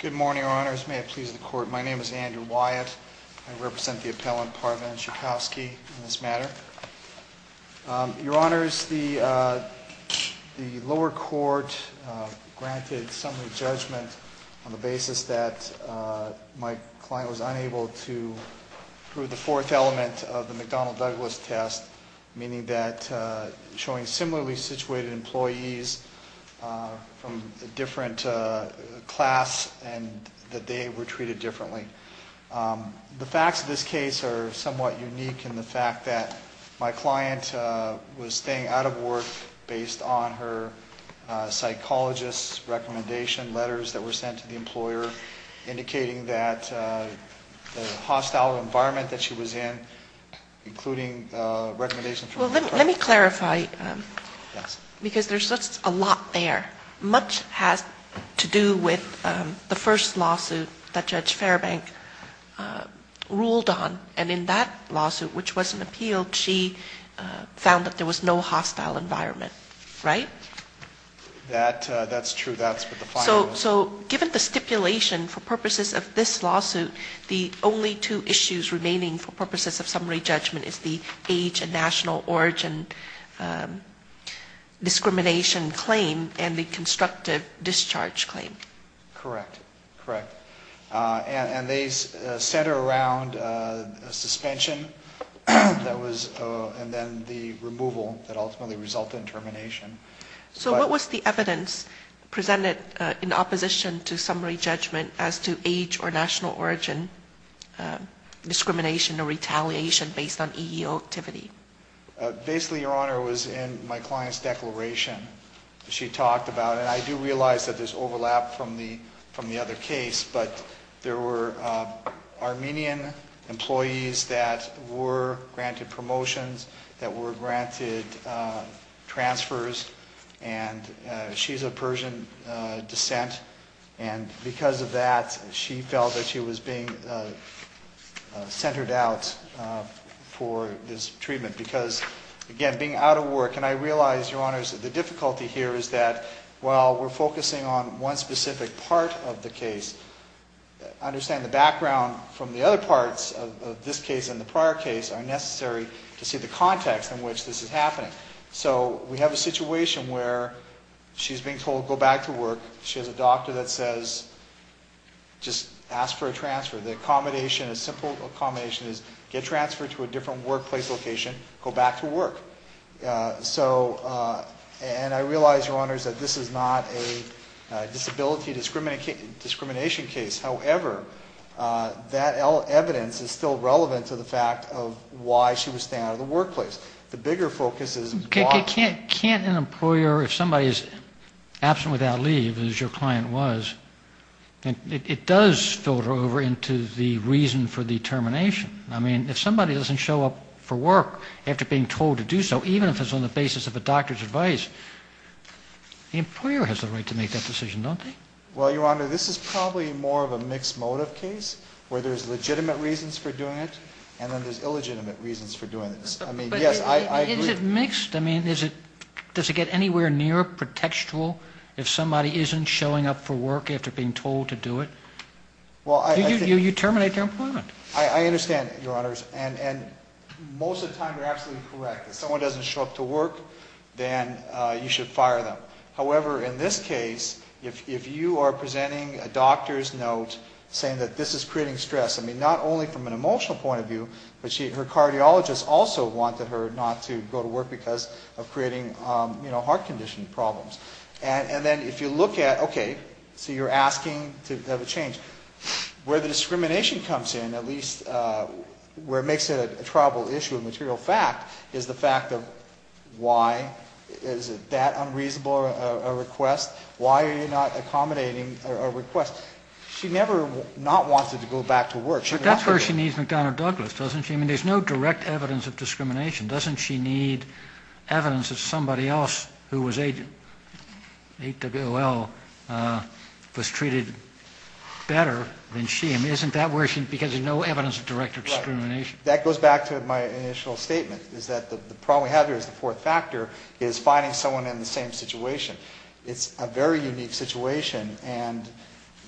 Good morning, Your Honors. May it please the Court, my name is Andrew Wyatt. I represent the appellant, Parvin Sieczkowski, in this matter. Your Honors, the lower court granted summary judgment on the basis that my client was unable to prove the fourth element of the McDonnell-Douglas test, meaning that showing similarly situated employees from a different class and that they were treated differently. The facts of this case are somewhat unique in the fact that my client was staying out of work based on her psychologist's recommendation letters that were sent to the employer indicating that the hostile environment that she was in, including recommendations from... Well, let me clarify, because there's just a lot there. Much has to do with the first lawsuit that Judge Fairbank ruled on, and in that lawsuit, which was an appeal, she found that there was no hostile environment, right? That's true, that's what the client was... So, given the stipulation, for purposes of this lawsuit, the only two issues remaining for purposes of summary judgment is the age and national origin discrimination claim, and the constructive discharge claim. Correct, correct. And they center around a suspension, and then the removal that ultimately resulted in termination. So what was the evidence presented in opposition to summary judgment as to age or national origin discrimination or retaliation based on EEO activity? Basically, Your Honor, it was in my client's declaration that she talked about, and I do realize that there's overlap from the other case, but there were Armenian employees that were granted promotions, that were granted transfers, and she's of Persian descent, and because of that, she felt that she was being centered out for this treatment. Because, again, being out of work, and I realize, Your Honors, that the difficulty here is that while we're focusing on one specific part of the case, understanding the background from the other parts of this case and the prior case are necessary to see the context in which this is happening. So we have a situation where she's being told, go back to work. She has a doctor that says, just ask for a transfer. The accommodation, a simple accommodation, is get transferred to a different workplace location, go back to work. And I realize, Your Honors, that this is not a disability discrimination case. However, that evidence is still relevant to the fact of why she was staying out of the workplace. Can't an employer, if somebody is absent without leave, as your client was, it does filter over into the reason for the termination. I mean, if somebody doesn't show up for work after being told to do so, even if it's on the basis of a doctor's advice, the employer has the right to make that decision, don't they? Well, Your Honor, this is probably more of a mixed motive case, where there's legitimate reasons for doing it, and then there's illegitimate reasons for doing it. But is it mixed? I mean, does it get anywhere near pretextual if somebody isn't showing up for work after being told to do it? You terminate their employment. I understand, Your Honors, and most of the time you're absolutely correct. If someone doesn't show up to work, then you should fire them. However, in this case, if you are presenting a doctor's note saying that this is creating stress, I mean, not only from an emotional point of view, but her cardiologist also wanted her not to go to work because of creating heart condition problems. And then if you look at, okay, so you're asking to have a change. Where the discrimination comes in, at least where it makes it a tribal issue of material fact, is the fact of why is that unreasonable a request? Why are you not accommodating a request? Because she never not wanted to go back to work. But that's where she needs McDonough-Douglas, doesn't she? I mean, there's no direct evidence of discrimination. Doesn't she need evidence that somebody else who was AWOL was treated better than she? I mean, isn't that where she needs it, because there's no evidence of direct discrimination? That goes back to my initial statement, is that the problem we have here is the fourth factor, is finding someone in the same situation. It's a very unique situation, and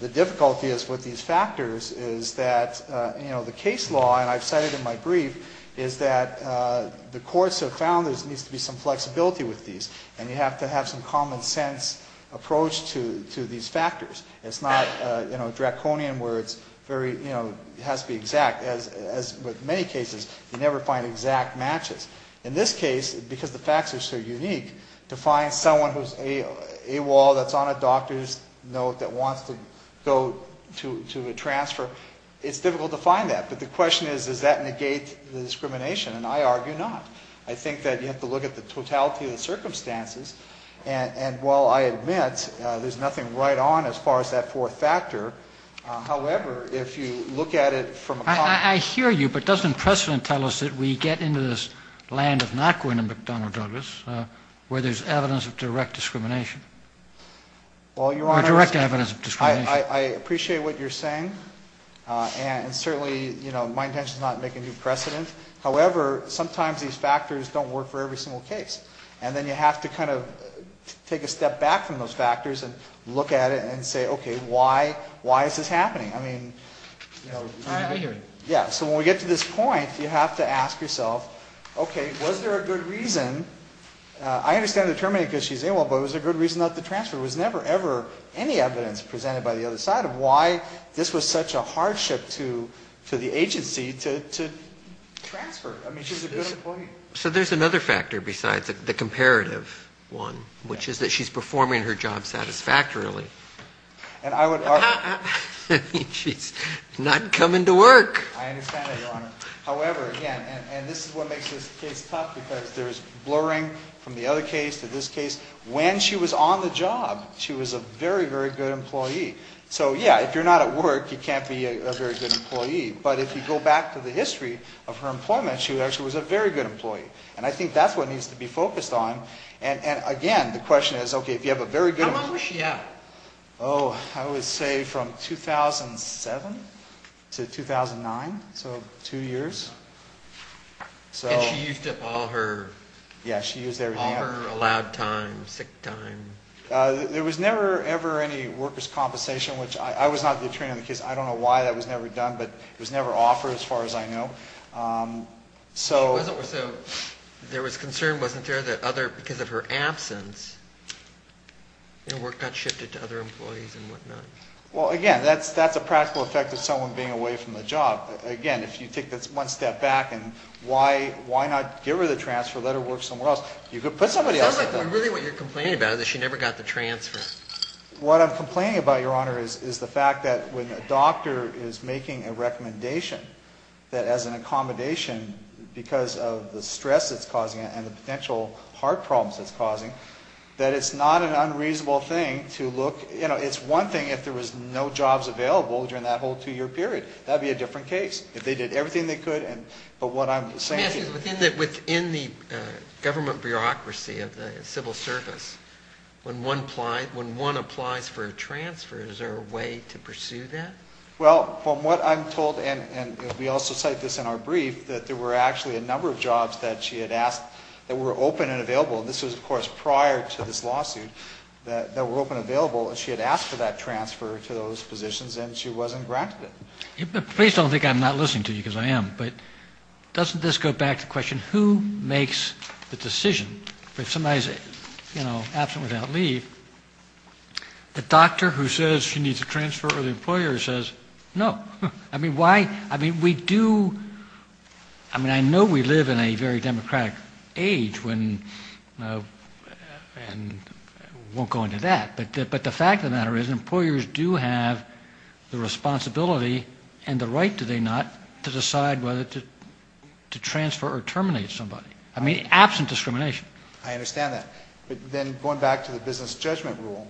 the difficulty with these factors is that, you know, the case law, and I've said it in my brief, is that the courts have found there needs to be some flexibility with these, and you have to have some common sense approach to these factors. It's not, you know, draconian where it's very, you know, it has to be exact. As with many cases, you never find exact matches. In this case, because the facts are so unique, to find someone who's AWOL that's on a doctor's note that wants to go to a transfer, it's difficult to find that. But the question is, does that negate the discrimination? And I argue not. I think that you have to look at the totality of the circumstances. And while I admit there's nothing right on as far as that fourth factor, however, if you look at it from a... I hear you, but doesn't precedent tell us that we get into this land of not going to McDonnell Douglas where there's evidence of direct discrimination? Well, Your Honor... Or direct evidence of discrimination. I appreciate what you're saying, and certainly, you know, my intention is not to make a new precedent. However, sometimes these factors don't work for every single case. And then you have to kind of take a step back from those factors and look at it and say, okay, why is this happening? I mean, you know... I hear you. Yeah, so when we get to this point, you have to ask yourself, okay, was there a good reason? I understand the terminated because she's AWOL, but was there a good reason not to transfer? There was never, ever any evidence presented by the other side of why this was such a hardship to the agency to transfer. I mean, she's a good employee. So there's another factor besides the comparative one, which is that she's performing her job satisfactorily. And I would argue... I mean, she's not coming to work. I understand that, Your Honor. However, again, and this is what makes this case tough because there's blurring from the other case to this case. When she was on the job, she was a very, very good employee. So, yeah, if you're not at work, you can't be a very good employee. But if you go back to the history of her employment, she actually was a very good employee. And I think that's what needs to be focused on. And again, the question is, okay, if you have a very good... How long was she out? Oh, I would say from 2007 to 2009, so two years. And she used up all her... Yeah, she used everything up. All her allowed time, sick time. There was never, ever any workers' compensation, which I was not the attorney on the case. I don't know why that was never done, but it was never offered as far as I know. So there was concern, wasn't there, that because of her absence, her work got shifted to other employees and whatnot? Well, again, that's a practical effect of someone being away from the job. Again, if you take this one step back and why not give her the transfer, let her work somewhere else? You could put somebody else at the... It sounds like really what you're complaining about is that she never got the transfer. What I'm complaining about, Your Honor, is the fact that when a doctor is making a recommendation, that as an accommodation, because of the stress it's causing and the potential heart problems it's causing, that it's not an unreasonable thing to look... It's one thing if there was no jobs available during that whole two-year period. That would be a different case. If they did everything they could, but what I'm saying... Let me ask you this. Within the government bureaucracy of the civil service, when one applies for a transfer, is there a way to pursue that? Well, from what I'm told, and we also cite this in our brief, that there were actually a number of jobs that she had asked that were open and available. This was, of course, prior to this lawsuit that were open and available, and she had asked for that transfer to those positions and she wasn't granted it. Please don't think I'm not listening to you, because I am. But doesn't this go back to the question, who makes the decision? If somebody is absent without leave, the doctor who says she needs a transfer or the employer says no. I mean, why? I mean, we do... I mean, I know we live in a very democratic age and won't go into that, but the fact of the matter is employers do have the responsibility and the right, do they not, to decide whether to transfer or terminate somebody. I mean, absent discrimination. I understand that. But then going back to the business judgment rule,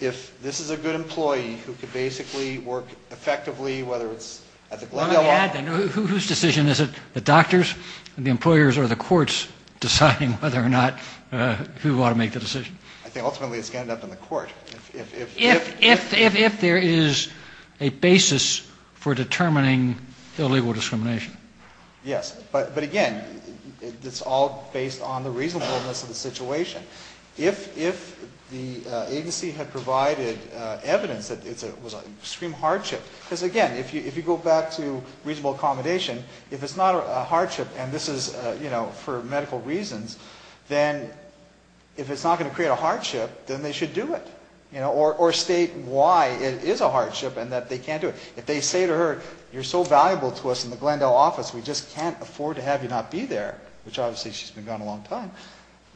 if this is a good employee who could basically work effectively, whether it's... Let me add then, whose decision is it? The doctors, the employers, or the courts deciding whether or not who ought to make the decision? I think ultimately it's going to end up in the court. If there is a basis for determining illegal discrimination. Yes. But again, it's all based on the reasonableness of the situation. If the agency had provided evidence that it was an extreme hardship, because again, if you go back to reasonable accommodation, if it's not a hardship and this is for medical reasons, then if it's not going to create a hardship, then they should do it. Or state why it is a hardship and that they can't do it. If they say to her, you're so valuable to us in the Glendale office, we just can't afford to have you not be there, which obviously she's been gone a long time,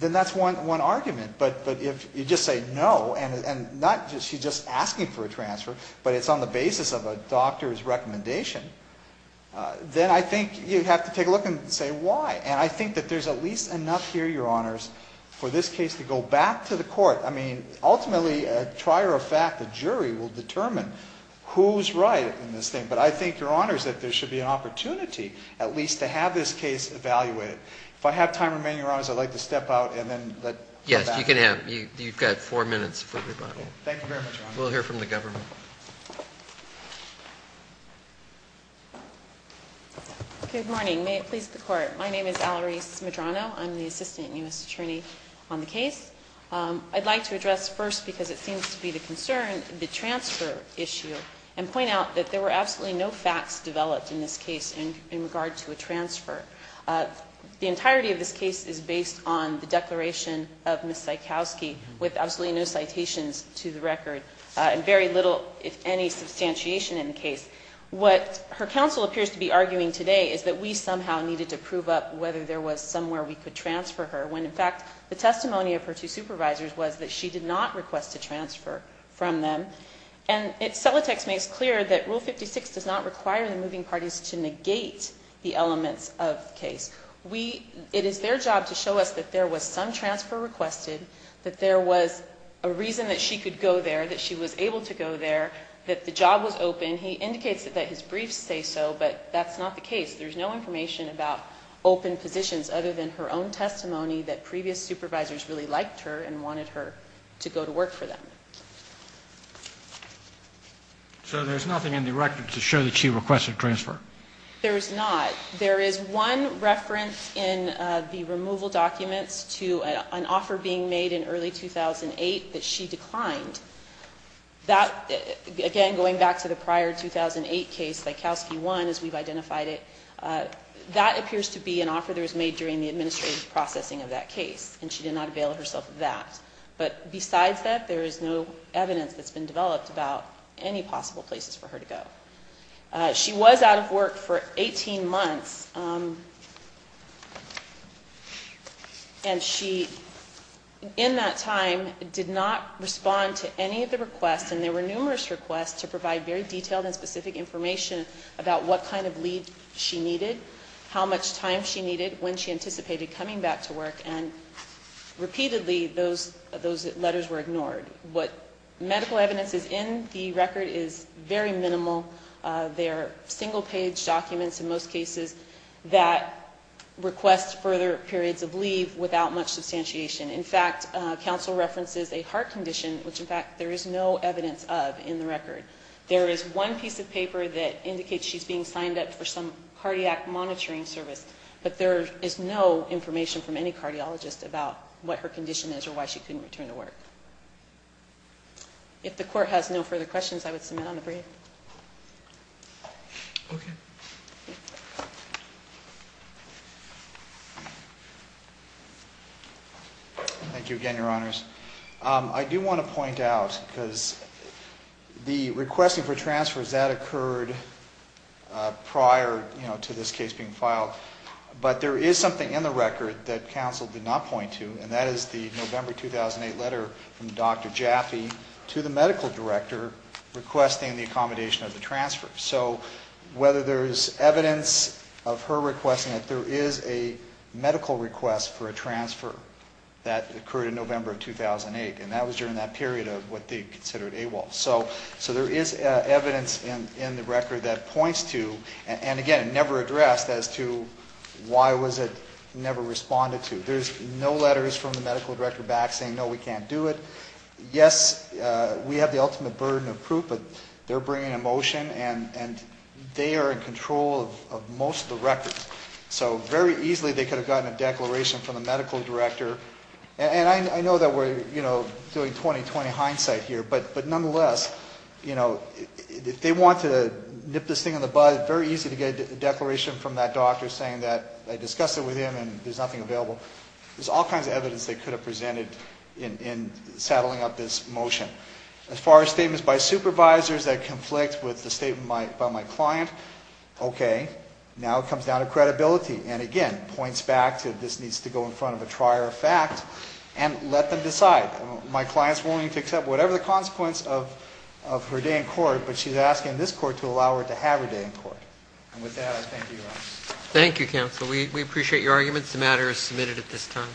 then that's one argument. But if you just say no, and not that she's just asking for a transfer, but it's on the basis of a doctor's recommendation, then I think you have to take a look and say why. And I think that there's at least enough here, Your Honors, for this case to go back to the court. I mean, ultimately, a trier of fact, a jury, will determine who's right in this thing. But I think, Your Honors, that there should be an opportunity at least to have this case evaluated. If I have time remaining, Your Honors, I'd like to step out and then go back. Yes, you can have it. You've got four minutes for rebuttal. Thank you very much, Your Honors. We'll hear from the government. Good morning. May it please the Court. My name is Alarice Medrano. I'm the Assistant U.S. Attorney on the case. I'd like to address first, because it seems to be the concern, the transfer issue and point out that there were absolutely no facts developed in this case in regard to a transfer. The entirety of this case is based on the declaration of Ms. Sikowsky with absolutely no citations to the record and very little, if any, substantiation in the case. What her counsel appears to be arguing today is that we somehow needed to prove up whether there was somewhere we could transfer her when, in fact, the testimony of her two supervisors was that she did not request a transfer from them. And it's Celotex makes clear that Rule 56 does not require the moving parties to negate the elements of the case. It is their job to show us that there was some transfer requested, that there was a reason that she could go there, that she was able to go there, that the job was open. And he indicates that his briefs say so, but that's not the case. There's no information about open positions other than her own testimony that previous supervisors really liked her and wanted her to go to work for them. So there's nothing in the record to show that she requested a transfer? There is not. There is one reference in the removal documents to an offer being made in early 2008 that she declined. That, again, going back to the prior 2008 case, Likowski 1, as we've identified it, that appears to be an offer that was made during the administrative processing of that case, and she did not avail herself of that. But besides that, there is no evidence that's been developed about any possible places for her to go. She was out of work for 18 months, and she, in that time, did not respond to any of the requests, and there were numerous requests to provide very detailed and specific information about what kind of lead she needed, how much time she needed, when she anticipated coming back to work, and repeatedly those letters were ignored. What medical evidence is in the record is very minimal. They are single-page documents, in most cases, that request further periods of leave without much substantiation. In fact, counsel references a heart condition, which, in fact, there is no evidence of in the record. There is one piece of paper that indicates she's being signed up for some cardiac monitoring service, but there is no information from any cardiologist about what her condition is or why she couldn't return to work. If the Court has no further questions, I would submit on the brief. Okay. Thank you again, Your Honors. I do want to point out, because the requesting for transfers, that occurred prior to this case being filed, but there is something in the record that counsel did not point to, and that is the November 2008 letter from Dr. Jaffe to the medical director requesting the accommodation of the transfer. So whether there is evidence of her requesting it, there is a medical request for a transfer that occurred in November of 2008, and that was during that period of what they considered AWOL. So there is evidence in the record that points to, and again, never addressed, as to why was it never responded to. There is no letters from the medical director back saying, no, we can't do it. Yes, we have the ultimate burden of proof, but they're bringing a motion, and they are in control of most of the record. So very easily they could have gotten a declaration from the medical director, and I know that we're doing 20-20 hindsight here, but nonetheless, you know, if they want to nip this thing in the bud, very easy to get a declaration from that doctor saying that they discussed it with him, and there's nothing available. There's all kinds of evidence they could have presented in saddling up this motion. As far as statements by supervisors that conflict with the statement by my client, okay, now it comes down to credibility, and again, points back to this needs to go in front of a trier of fact, and let them decide. My client's willing to accept whatever the consequence of her day in court, but she's asking this court to allow her to have her day in court. And with that, I thank you. Thank you, counsel. We appreciate your arguments. The matter is submitted at this time.